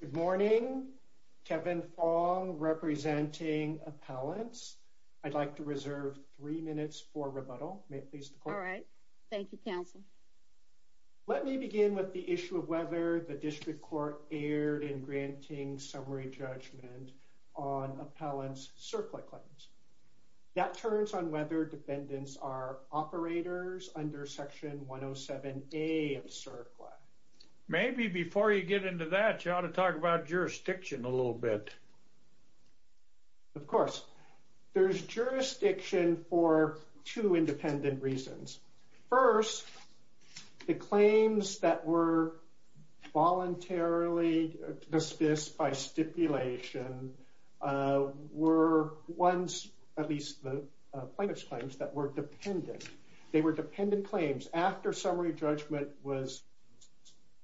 Good morning. Kevin Fong representing Appellants. I'd like to reserve three minutes for rebuttal. May it please the Court? All right. Thank you, Counsel. Let me begin with the issue of whether the District Court erred in granting summary judgment on Appellants' CERCLA claims. That turns on whether dependents are operators under Section 107A of CERCLA. Maybe before you get into that, you ought to talk about jurisdiction a little bit. Of course. There's jurisdiction for two independent reasons. First, the claims that were voluntarily dismissed by stipulation were ones, at least the plaintiff's claims, that were dependent. They were dependent claims. After summary judgment was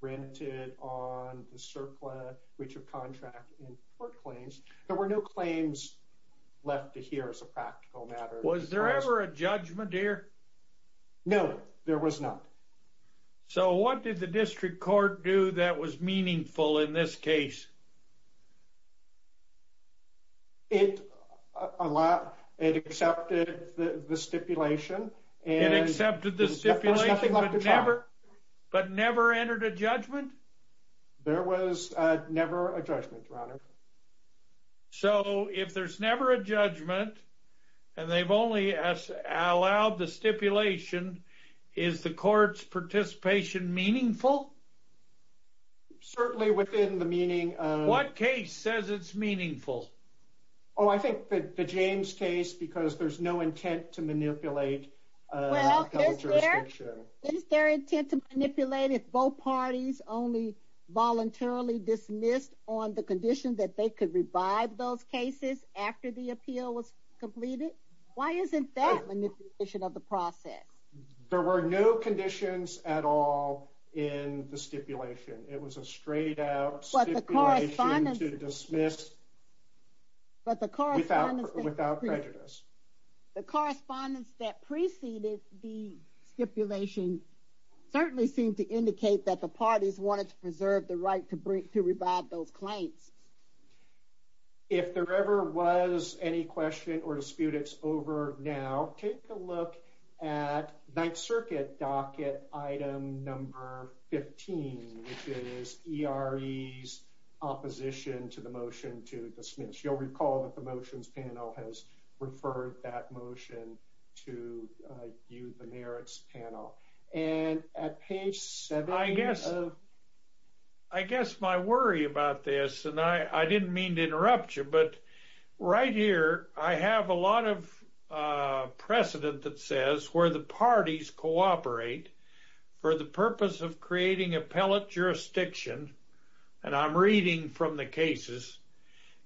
granted on the CERCLA breach of contract in court claims, there were no claims left to hear as a practical matter. Was there ever a judgment here? No, there was not. So what did the District Court do that was meaningful in this case? It accepted the stipulation. It accepted the stipulation but never entered a judgment? There was never a judgment, Your Honor. So if there's never a judgment and they've only allowed the stipulation, is the Court's participation meaningful? Certainly within the meaning of... What case says it's meaningful? Oh, I think the James case because there's no intent to manipulate federal jurisdiction. Well, is there intent to manipulate if both parties only voluntarily dismissed on the condition that they could revive those cases after the appeal was completed? Why isn't that manipulation of the process? There were no conditions at all in the stipulation. It was a straight out stipulation to dismiss without prejudice. The correspondence that preceded the stipulation certainly seemed to indicate that the parties wanted to preserve the right to revive those claims. If there ever was any question or dispute, it's over now. Take a look at Ninth Circuit docket item number 15, which is ERE's opposition to the motion to dismiss. You'll recall that the motions panel has referred that motion to you, the merits panel. I guess my worry about this, and I didn't mean to interrupt you, but right here I have a lot of precedent that says where the parties cooperate for the purpose of creating appellate jurisdiction, and I'm reading from the cases,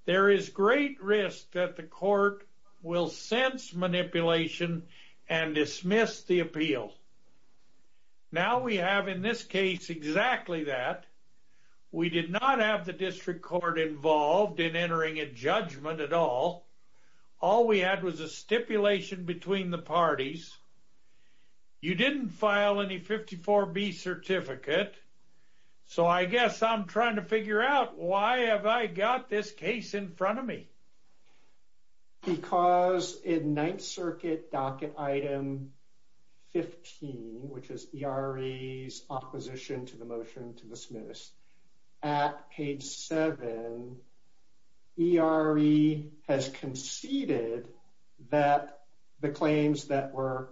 there is great risk that the court will sense manipulation and dismiss the appeal. Now we have in this case exactly that. We did not have the district court involved in entering a judgment at all. All we had was a stipulation between the parties. You didn't file any 54B certificate, so I guess I'm trying to figure out why have I got this case in front of me. Because in Ninth Circuit docket item 15, which is ERE's opposition to the motion to dismiss, at page 7, ERE has conceded that the claims that were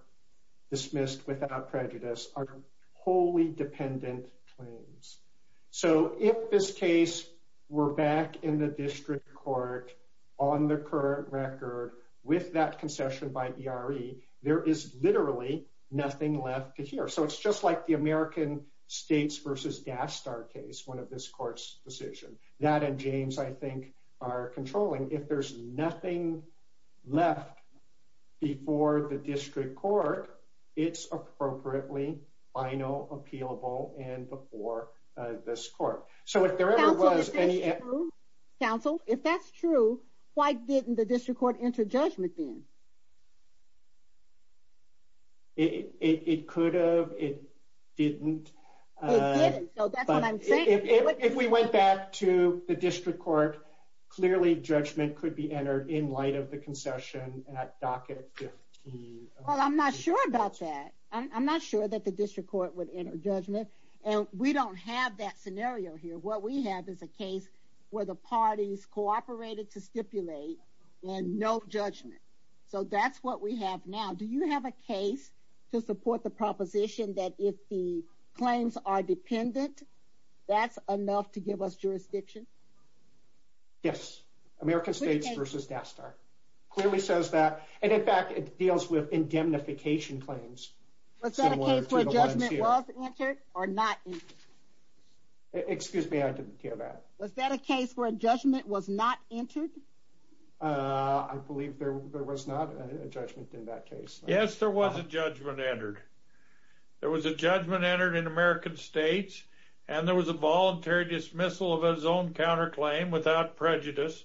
dismissed without prejudice are wholly dependent claims. So if this case were back in the district court on the current record with that concession by ERE, there is literally nothing left to hear. So it's just like the American States v. Gastar case, one of this court's decisions. That and James, I think, are controlling. If there's nothing left before the district court, it's appropriately final, appealable, and before this court. So if there ever was any... Counsel, if that's true, why didn't the district court enter judgment then? It could have. It didn't. It didn't, so that's what I'm saying. If we went back to the district court, clearly judgment could be entered in light of the concession at docket 15. Well, I'm not sure about that. I'm not sure that the district court would enter judgment. And we don't have that scenario here. What we have is a case where the parties cooperated to stipulate and no judgment. So that's what we have now. Do you have a case to support the proposition that if the claims are dependent, that's enough to give us jurisdiction? Yes. American States v. Gastar. Clearly says that. And in fact, it deals with indemnification claims. Was that a case where judgment was entered or not entered? Excuse me, I didn't hear that. Was that a case where judgment was not entered? I believe there was not a judgment in that case. Yes, there was a judgment entered. There was a judgment entered in American States. And there was a voluntary dismissal of his own counterclaim without prejudice.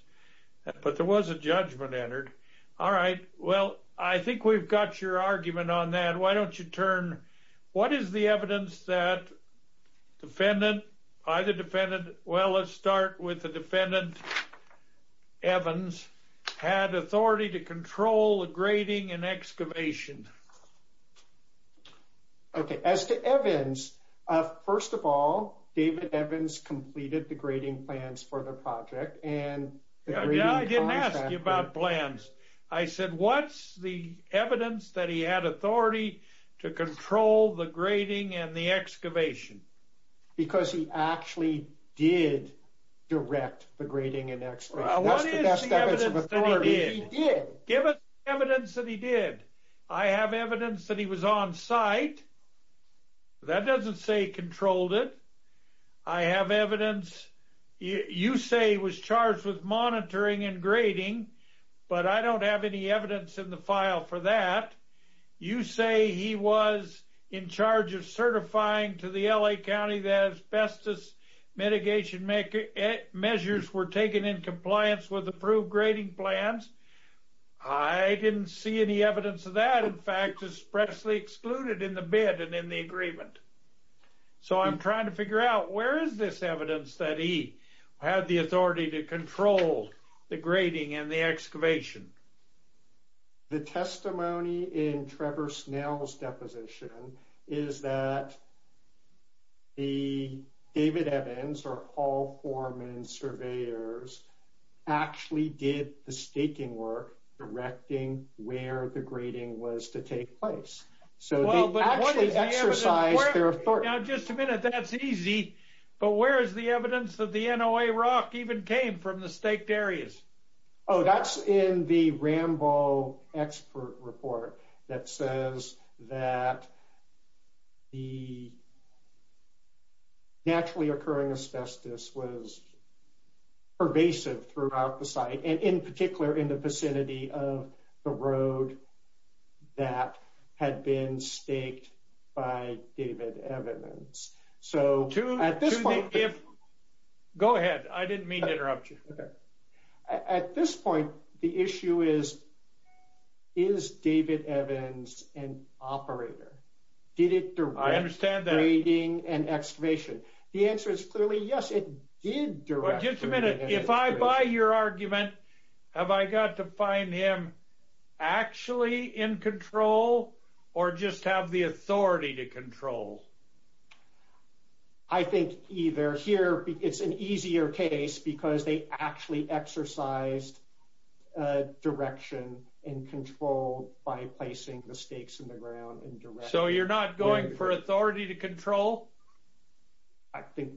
But there was a judgment entered. All right. Well, I think we've got your argument on that. Why don't you turn? What is the evidence that defendant by the defendant? Well, let's start with the defendant. Evans had authority to control the grading and excavation. Okay. As to Evans, first of all, David Evans completed the grading plans for the project. And I didn't ask you about plans. I said, what's the evidence that he had authority to control the grading and the excavation? Because he actually did direct the grading and excavation. Well, what is the evidence that he did? Give us the evidence that he did. I have evidence that he was on site. That doesn't say controlled it. I have evidence. You say he was charged with monitoring and grading. But I don't have any evidence in the file for that. You say he was in charge of certifying to the L.A. County that asbestos mitigation measures were taken in compliance with approved grading plans. I didn't see any evidence of that, in fact, expressly excluded in the bid and in the agreement. So I'm trying to figure out where is this evidence that he had the authority to control the grading and the excavation? The testimony in Trevor Snell's deposition is that the David Evans, or all four men, surveyors actually did the staking work directing where the grading was to take place. So they actually exercised their authority. Now, just a minute. That's easy. But where is the evidence that the NOA rock even came from the staked areas? Oh, that's in the Rambo expert report that says that the naturally occurring asbestos was pervasive throughout the site, and in particular in the vicinity of the road that had been staked by David Evans. Go ahead. I didn't mean to interrupt you. At this point, the issue is, is David Evans an operator? Did it direct grading and excavation? The answer is clearly yes, it did direct grading and excavation. Just a minute. If I buy your argument, have I got to find him actually in control or just have the authority to control? I think either here. It's an easier case because they actually exercised direction and control by placing the stakes in the ground. So you're not going for authority to control? I think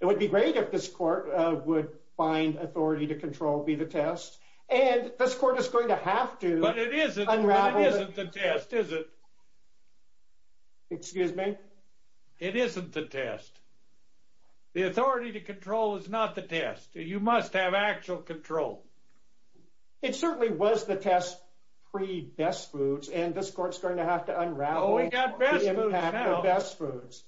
it would be great if this court would find authority to control be the test. And this court is going to have to. But it isn't. But it isn't the test, is it? Excuse me? It isn't the test. The authority to control is not the test. You must have actual control. It certainly was the test pre-Best Foods, and this court's going to have to unravel the impact of Best Foods.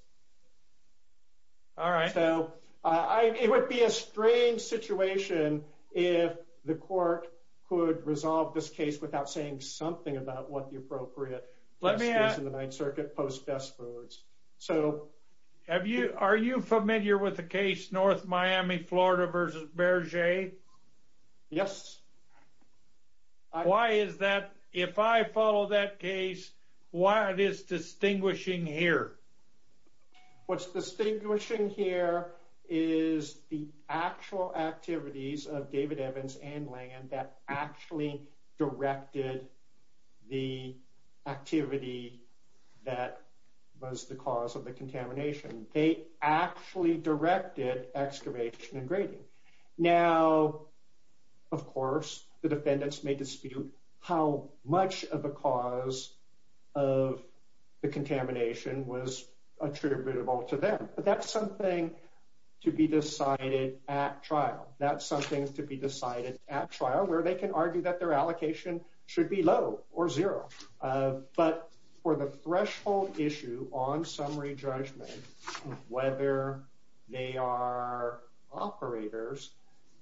All right. So it would be a strange situation if the court could resolve this case without saying something about what the appropriate test is in the Ninth Circuit post-Best Foods. Are you familiar with the case North Miami, Florida versus Berger? Yes. Why is that? If I follow that case, what is distinguishing here? What's distinguishing here is the actual activities of David Evans and Langen that actually directed the activity that was the cause of the contamination. Now, of course, the defendants may dispute how much of the cause of the contamination was attributable to them. But that's something to be decided at trial. That's something to be decided at trial where they can argue that their allocation should be low or zero. But for the threshold issue on summary judgment, whether they are operators,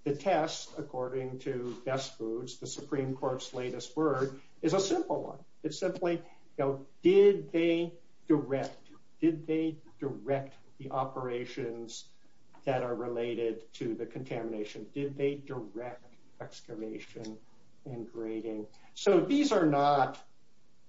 the test, according to Best Foods, the Supreme Court's latest word, is a simple one. It's simply, did they direct the operations that are related to the contamination? Did they direct excavation and grading? So these are not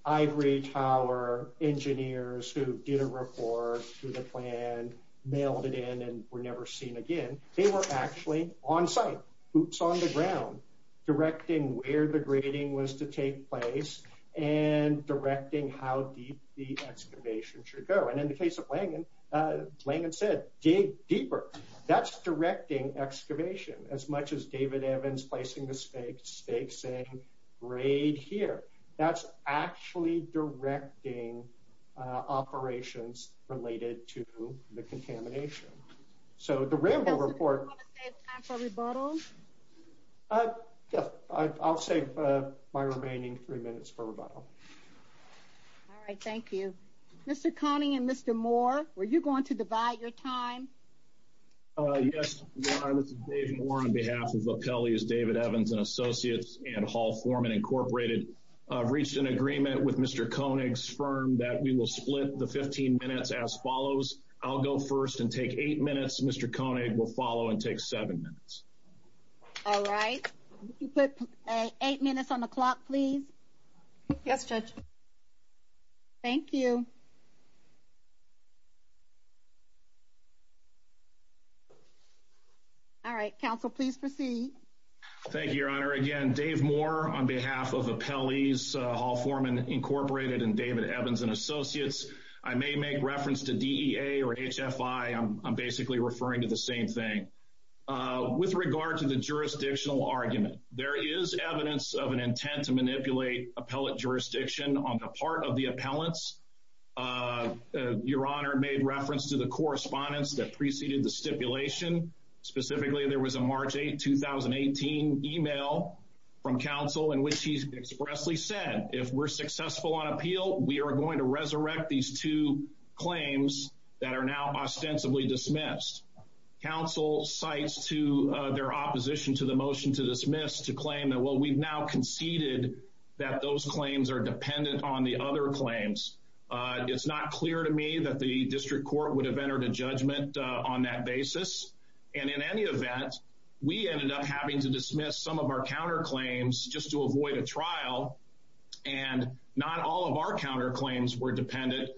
ivory tower engineers who did a report through the plan, mailed it in, and were never seen again. They were actually on site, hoops on the ground, directing where the grading was to take place and directing how deep the excavation should go. And in the case of Langen, Langen said, dig deeper. That's directing excavation as much as David Evans placing the stakes and grade here. That's actually directing operations related to the contamination. So the Rambo report. Do you want to save time for rebuttal? Yes, I'll save my remaining three minutes for rebuttal. All right, thank you. Mr. Connie and Mr. Moore, were you going to divide your time? Yes, Your Honor, this is Dave Moore on behalf of LaPelle's David Evans and Associates and Hall Foreman Incorporated. I've reached an agreement with Mr. Koenig's firm that we will split the 15 minutes as follows. I'll go first and take eight minutes. Mr. Koenig will follow and take seven minutes. All right. Could you put eight minutes on the clock, please? Yes, Judge. Thank you. All right, counsel, please proceed. Thank you, Your Honor. Again, Dave Moore on behalf of LaPelle's Hall Foreman Incorporated and David Evans and Associates. I may make reference to DEA or HFI. I'm basically referring to the same thing. With regard to the jurisdictional argument, there is evidence of an intent to manipulate appellate jurisdiction on the part of the appellants. Your Honor made reference to the correspondence that preceded the stipulation. Specifically, there was a March 8, 2018 email from counsel in which he expressly said, if we're successful on appeal, we are going to resurrect these two claims that are now ostensibly dismissed. Counsel cites to their opposition to the motion to dismiss to claim that, well, we've now conceded that those claims are dependent on the other claims. It's not clear to me that the district court would have entered a judgment on that basis. And in any event, we ended up having to dismiss some of our counterclaims just to avoid a trial. And not all of our counterclaims were dependent.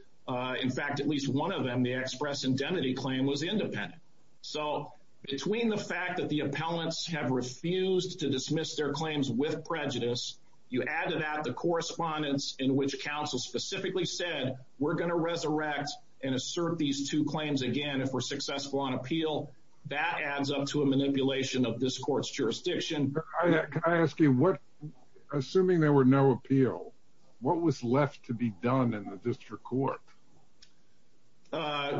In fact, at least one of them, the express indemnity claim, was independent. So between the fact that the appellants have refused to dismiss their claims with prejudice, you add to that the correspondence in which counsel specifically said, we're going to resurrect and assert these two claims again if we're successful on appeal. That adds up to a manipulation of this court's jurisdiction. Can I ask you, assuming there were no appeal, what was left to be done in the district court?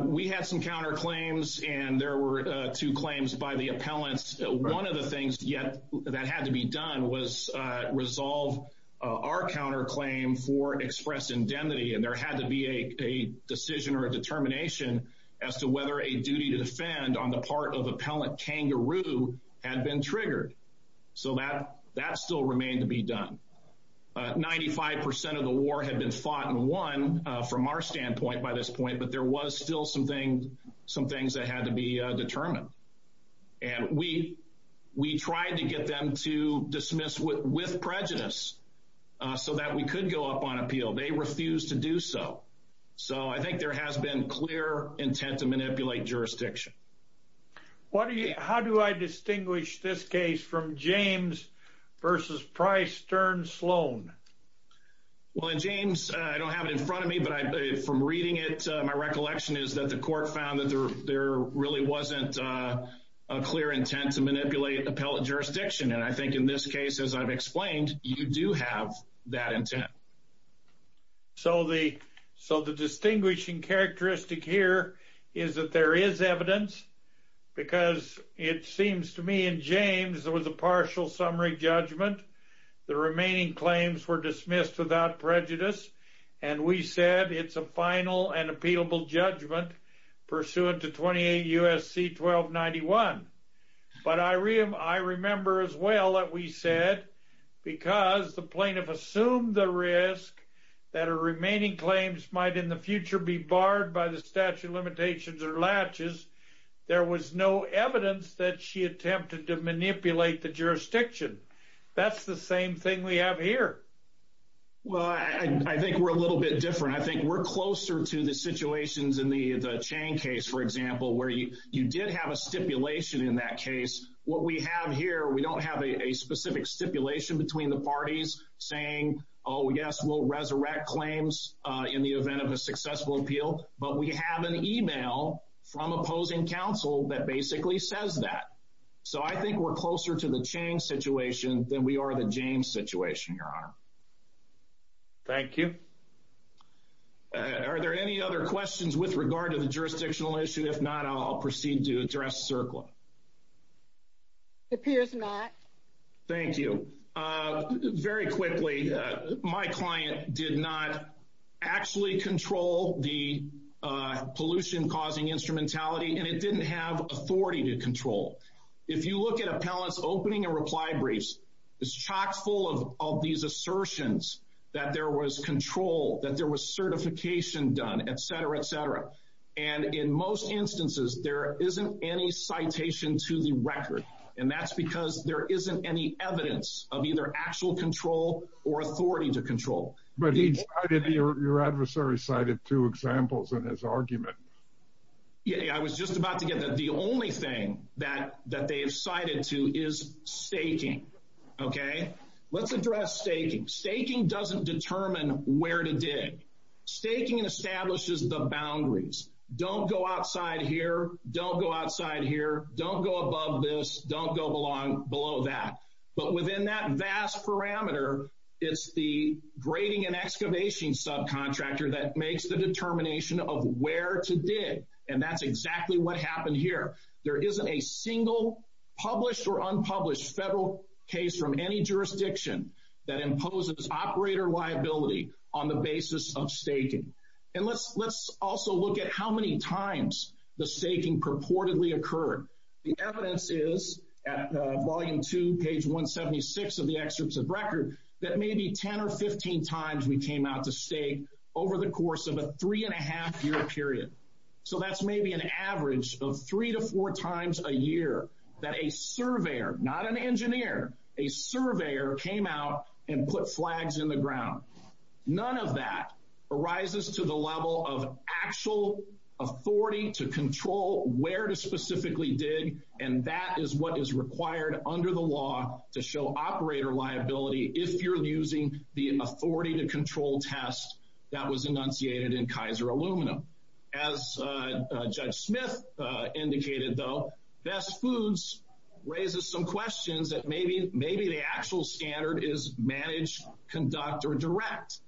We had some counterclaims and there were two claims by the appellants. One of the things that had to be done was resolve our counterclaim for express indemnity. And there had to be a decision or a determination as to whether a duty to defend on the part of appellant kangaroo had been triggered. So that still remained to be done. Ninety-five percent of the war had been fought and won from our standpoint by this point, but there was still some things that had to be determined. And we tried to get them to dismiss with prejudice so that we could go up on appeal. They refused to do so. So I think there has been clear intent to manipulate jurisdiction. How do I distinguish this case from James v. Price, Stern, Sloan? Well, in James, I don't have it in front of me, but from reading it, my recollection is that the court found that there really wasn't a clear intent to manipulate appellant jurisdiction. And I think in this case, as I've explained, you do have that intent. So the distinguishing characteristic here is that there is evidence, because it seems to me in James there was a partial summary judgment. The remaining claims were dismissed without prejudice, and we said it's a final and appealable judgment pursuant to 28 U.S.C. 1291. But I remember as well that we said because the plaintiff assumed the risk that her remaining claims might in the future be barred by the statute of limitations or latches, there was no evidence that she attempted to manipulate the jurisdiction. That's the same thing we have here. Well, I think we're a little bit different. I think we're closer to the situations in the Chang case, for example, where you did have a stipulation in that case. What we have here, we don't have a specific stipulation between the parties saying, oh, yes, we'll resurrect claims in the event of a successful appeal, but we have an email from opposing counsel that basically says that. So I think we're closer to the Chang situation than we are the James situation, Your Honor. Thank you. Are there any other questions with regard to the jurisdictional issue? If not, I'll proceed to address CERCLA. It appears not. Thank you. Very quickly, my client did not actually control the pollution-causing instrumentality, and it didn't have authority to control. If you look at appellants' opening and reply briefs, it's chock full of these assertions that there was control, that there was certification done, et cetera, et cetera. And in most instances, there isn't any citation to the record, and that's because there isn't any evidence of either actual control or authority to control. But your adversary cited two examples in his argument. I was just about to get that. The only thing that they have cited to is staking. Okay? Let's address staking. Staking doesn't determine where to dig. Staking establishes the boundaries. Don't go outside here. Don't go outside here. Don't go above this. Don't go below that. But within that vast parameter, it's the grading and excavation subcontractor that makes the determination of where to dig, and that's exactly what happened here. There isn't a single published or unpublished federal case from any jurisdiction that imposes operator liability on the basis of staking. And let's also look at how many times the staking purportedly occurred. The evidence is at volume two, page 176 of the excerpts of record, that maybe 10 or 15 times we came out to stake over the course of a three-and-a-half-year period. So that's maybe an average of three to four times a year that a surveyor, not an engineer, a surveyor came out and put flags in the ground. None of that arises to the level of actual authority to control where to specifically dig, and that is what is required under the law to show operator liability if you're using the authority to control test that was enunciated in Kaiser Aluminum. As Judge Smith indicated, though, Best Foods raises some questions that maybe the actual standard is manage, conduct, or direct.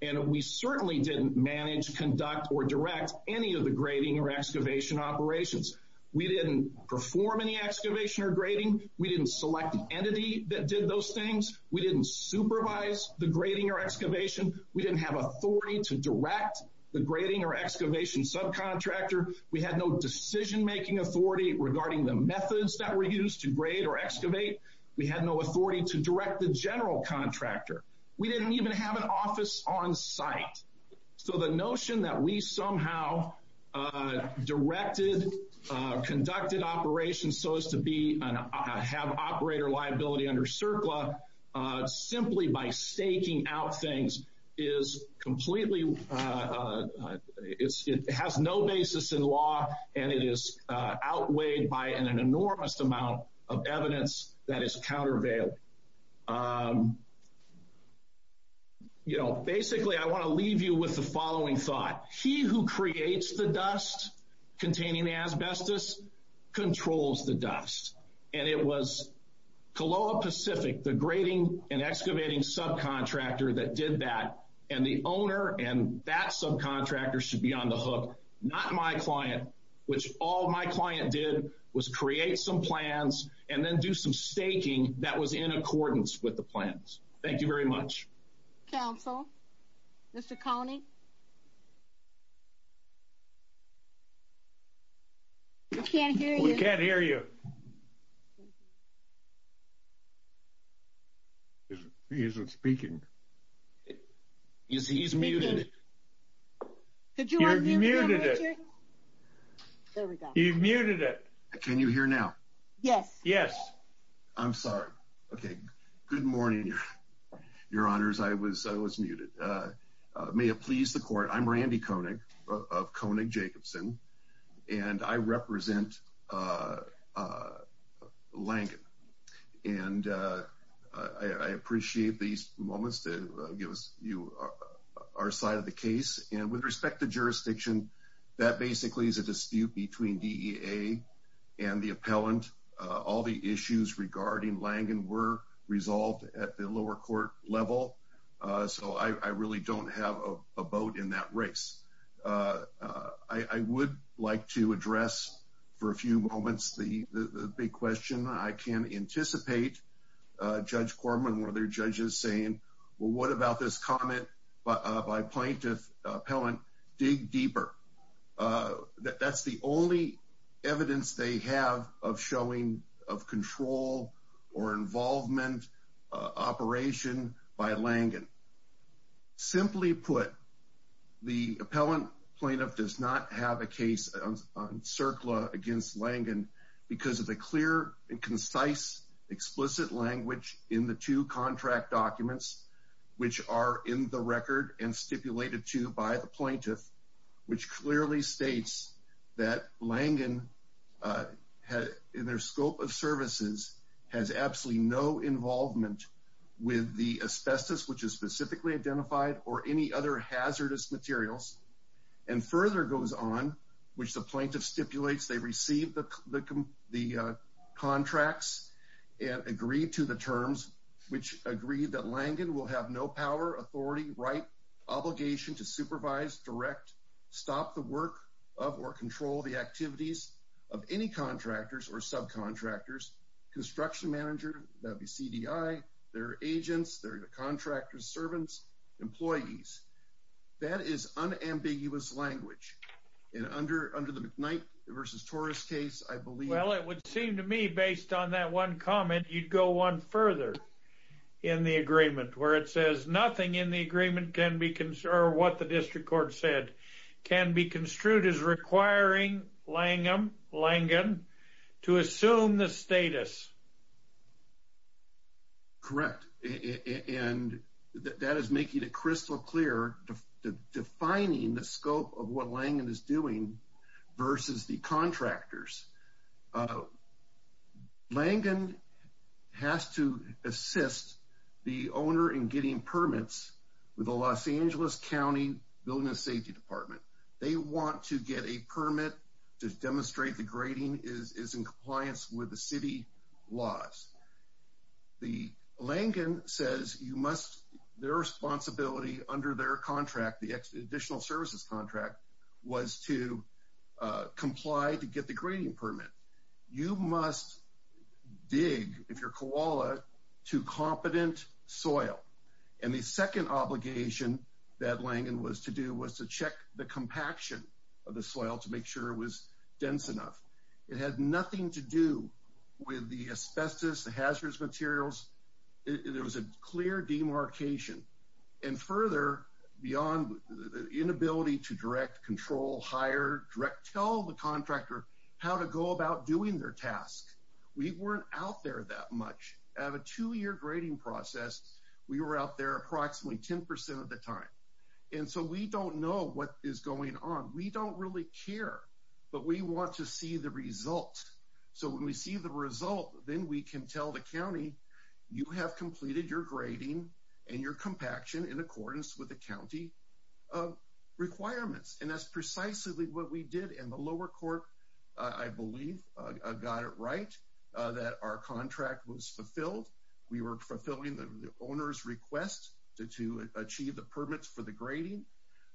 And we certainly didn't manage, conduct, or direct any of the grading or excavation operations. We didn't perform any excavation or grading. We didn't select an entity that did those things. We didn't supervise the grading or excavation. We didn't have authority to direct the grading or excavation subcontractor. We had no decision-making authority regarding the methods that were used to grade or excavate. We had no authority to direct the general contractor. We didn't even have an office on site. So the notion that we somehow directed, conducted operations so as to have operator liability under CERCLA simply by staking out things is completely – it has no basis in law, and it is outweighed by an enormous amount of evidence that is countervail. Basically, I want to leave you with the following thought. He who creates the dust containing asbestos controls the dust. And it was Coloa Pacific, the grading and excavating subcontractor that did that, and the owner and that subcontractor should be on the hook, not my client, which all my client did was create some plans and then do some staking that was in accordance with the plans. Thank you very much. Council, Mr. Coney? We can't hear you. We can't hear you. He isn't speaking. He's muted. He's muted. He's muted. He's muted. Can you hear now? Yes. Yes. I'm sorry. Okay. Good morning, Your Honors. I was muted. May it please the Court, I'm Randy Koenig of Koenig Jacobson, and I represent Langen. And I appreciate these moments to give you our side of the case. And with respect to jurisdiction, that basically is a dispute between DEA and the appellant. All the issues regarding Langen were resolved at the lower court level, so I really don't have a vote in that race. I would like to address for a few moments the big question. I can anticipate Judge Corman or other judges saying, well, what about this comment by plaintiff appellant? Dig deeper. That's the only evidence they have of showing of control or involvement operation by Langen. Simply put, the appellant plaintiff does not have a case on CERCLA against Langen because of the clear and concise, explicit language in the two contract documents, which are in the record and stipulated to by the plaintiff, which clearly states that Langen, in their scope of services, has absolutely no involvement with the asbestos, which is specifically identified, or any other hazardous materials. And further goes on, which the plaintiff stipulates they received the contracts and agreed to the terms, which agreed that Langen will have no power, authority, right, obligation to supervise, direct, stop the work of or control the activities of any contractors or subcontractors, construction manager, that would be CDI, their agents, their contractors, servants, employees. That is unambiguous language. And under the McKnight v. Torres case, I believe... ...in the agreement, where it says nothing in the agreement can be, or what the district court said, can be construed as requiring Langen to assume the status. Correct. And that is making it crystal clear, defining the scope of what Langen is doing versus the contractors. Langen has to assist the owner in getting permits with the Los Angeles County Building and Safety Department. They want to get a permit to demonstrate the grading is in compliance with the city laws. Langen says their responsibility under their contract, the additional services contract, was to comply to get the grading permit. You must dig, if you're koala, to competent soil. And the second obligation that Langen was to do was to check the compaction of the soil to make sure it was dense enough. It had nothing to do with the asbestos, the hazardous materials. There was a clear demarcation. And further, beyond the inability to direct, control, hire, tell the contractor how to go about doing their task. We weren't out there that much. At a two-year grading process, we were out there approximately 10% of the time. And so we don't know what is going on. We don't really care, but we want to see the result. So when we see the result, then we can tell the county, you have completed your grading and your compaction in accordance with the county requirements. And that's precisely what we did. And the lower court, I believe, got it right that our contract was fulfilled. We were fulfilling the owner's request to achieve the permits for the grading.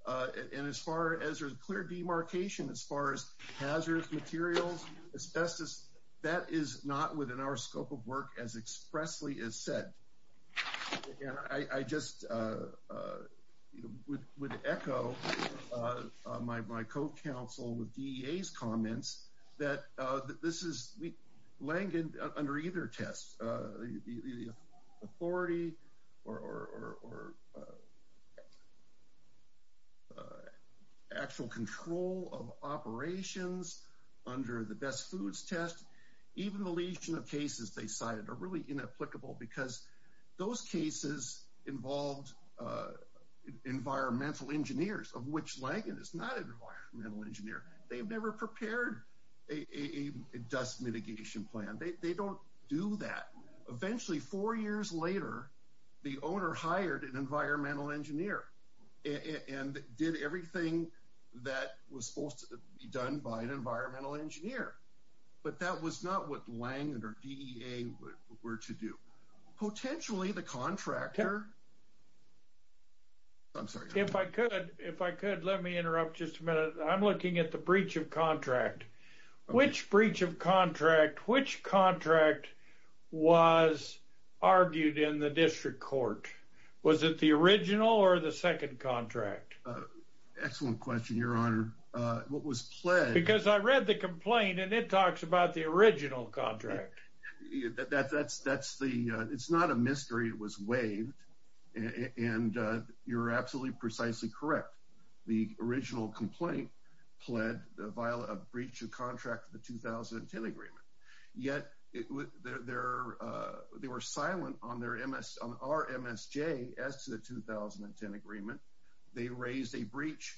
And as far as there's a clear demarcation as far as hazardous materials, asbestos, that is not within our scope of work as expressly as said. And I just would echo my co-counsel with DEA's comments that this is Langen under either test. The authority or actual control of operations under the best foods test, even the lesion of cases they cited are really inapplicable because those cases involved environmental engineers, of which Langen is not an environmental engineer. They've never prepared a dust mitigation plan. They don't do that. Eventually, four years later, the owner hired an environmental engineer and did everything that was supposed to be done by an environmental engineer. But that was not what Langen or DEA were to do. Potentially, the contractor... If I could, let me interrupt just a minute. I'm looking at the breach of contract. Which breach of contract, which contract was argued in the district court? Was it the original or the second contract? Excellent question, Your Honor. What was pled... Because I read the complaint, and it talks about the original contract. That's the... It's not a mystery. It was waived, and you're absolutely precisely correct. The original complaint pled a breach of contract of the 2010 agreement. Yet, they were silent on our MSJ as to the 2010 agreement. They raised a breach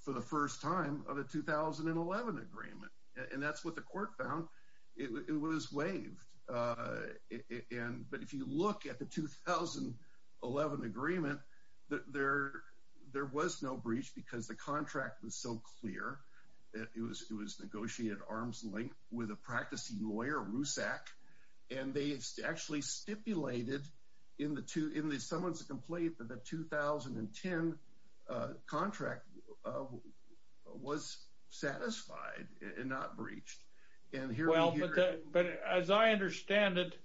for the first time of a 2011 agreement, and that's what the court found. It was waived. But if you look at the 2011 agreement, there was no breach because the contract was so clear. It was negotiated arm's length with a practicing lawyer, Rusak, and they actually stipulated in the summons of complaint Well, but as I understand it,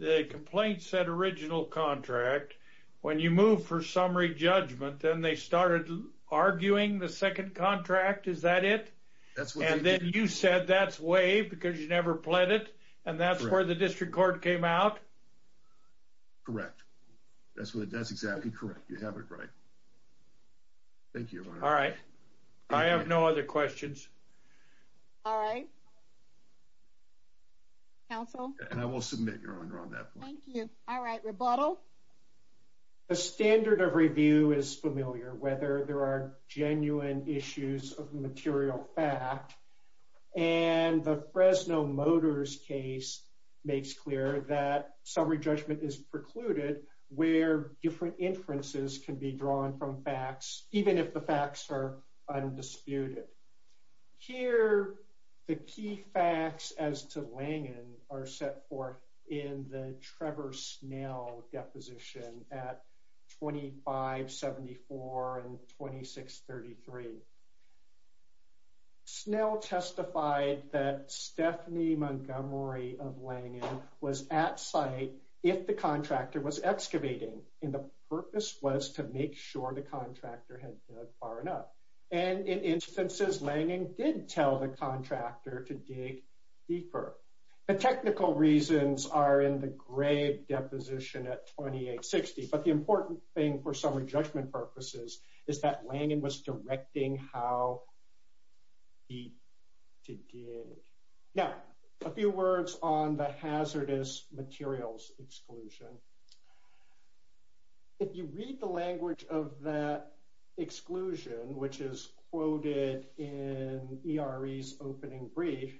the complaint said original contract. When you move for summary judgment, then they started arguing the second contract. Is that it? That's what they did. And then you said that's waived because you never pled it, and that's where the district court came out? Correct. That's exactly correct. You have it right. Thank you, Your Honor. All right. I have no other questions. All right. Counsel? And I will submit, Your Honor, on that point. Thank you. All right. Rebuttal? The standard of review is familiar, whether there are genuine issues of material fact, and the Fresno Motors case makes clear that summary judgment is precluded where different inferences can be drawn from facts, even if the facts are undisputed. Here, the key facts as to Langen are set forth in the Trevor Snell deposition at 2574 and 2633. Snell testified that Stephanie Montgomery of Langen was at site if the contractor was excavating, and the purpose was to make sure the contractor had dug far enough. And in instances, Langen did tell the contractor to dig deeper. The technical reasons are in the Grave deposition at 2860, but the important thing for summary judgment purposes is that Langen was directing how deep to dig. Now, a few words on the hazardous materials exclusion. If you read the language of that exclusion, which is quoted in ERE's opening brief,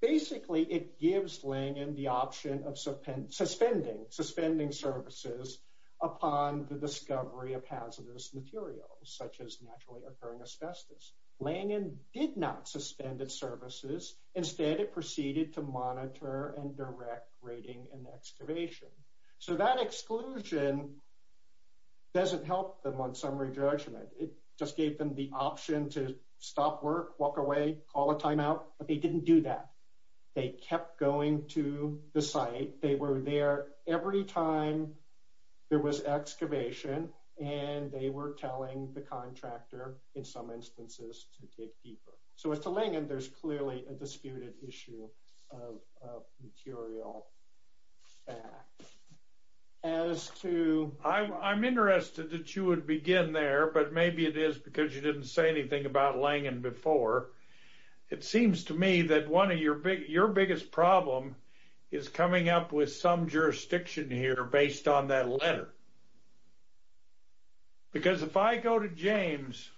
basically it gives Langen the option of suspending services upon the discovery of hazardous materials, such as naturally occurring asbestos. Langen did not suspend its services. Instead, it proceeded to monitor and direct grading and excavation. So that exclusion doesn't help them on summary judgment. It just gave them the option to stop work, walk away, call a timeout, but they didn't do that. They kept going to the site. They were there every time there was excavation, and they were telling the contractor, in some instances, to dig deeper. So as to Langen, there's clearly a disputed issue of material fact. As to... I'm interested that you would begin there, but maybe it is because you didn't say anything about Langen before. It seems to me that your biggest problem is coming up with some jurisdiction here based on that letter. Because if I go to James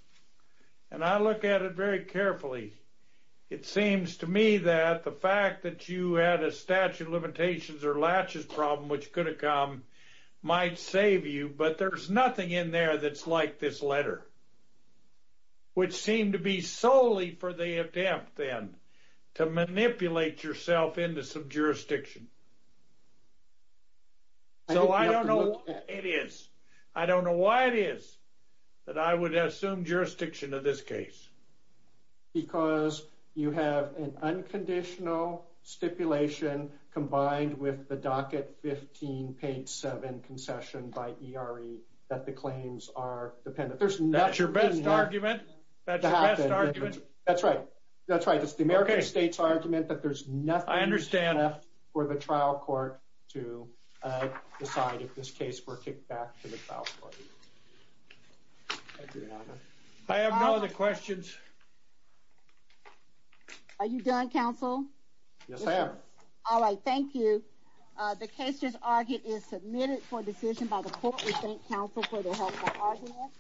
and I look at it very carefully, it seems to me that the fact that you had a statute of limitations or latches problem, which could have come, might save you, but there's nothing in there that's like this letter, which seemed to be solely for the attempt, then, to manipulate yourself into some jurisdiction. So I don't know what it is. I don't know why it is that I would assume jurisdiction of this case. Because you have an unconditional stipulation combined with the docket 15 page 7 concession by ERE that the claims are dependent. That's your best argument? That's right. That's right. It's the American state's argument that there's nothing... I understand. ...for the trial court to decide if this case were kicked back to the trial court. Thank you, Your Honor. I have no other questions. Are you done, counsel? Yes, ma'am. All right. Thank you. The case just argued is submitted for decision by the court. We thank counsel for their help in the argument.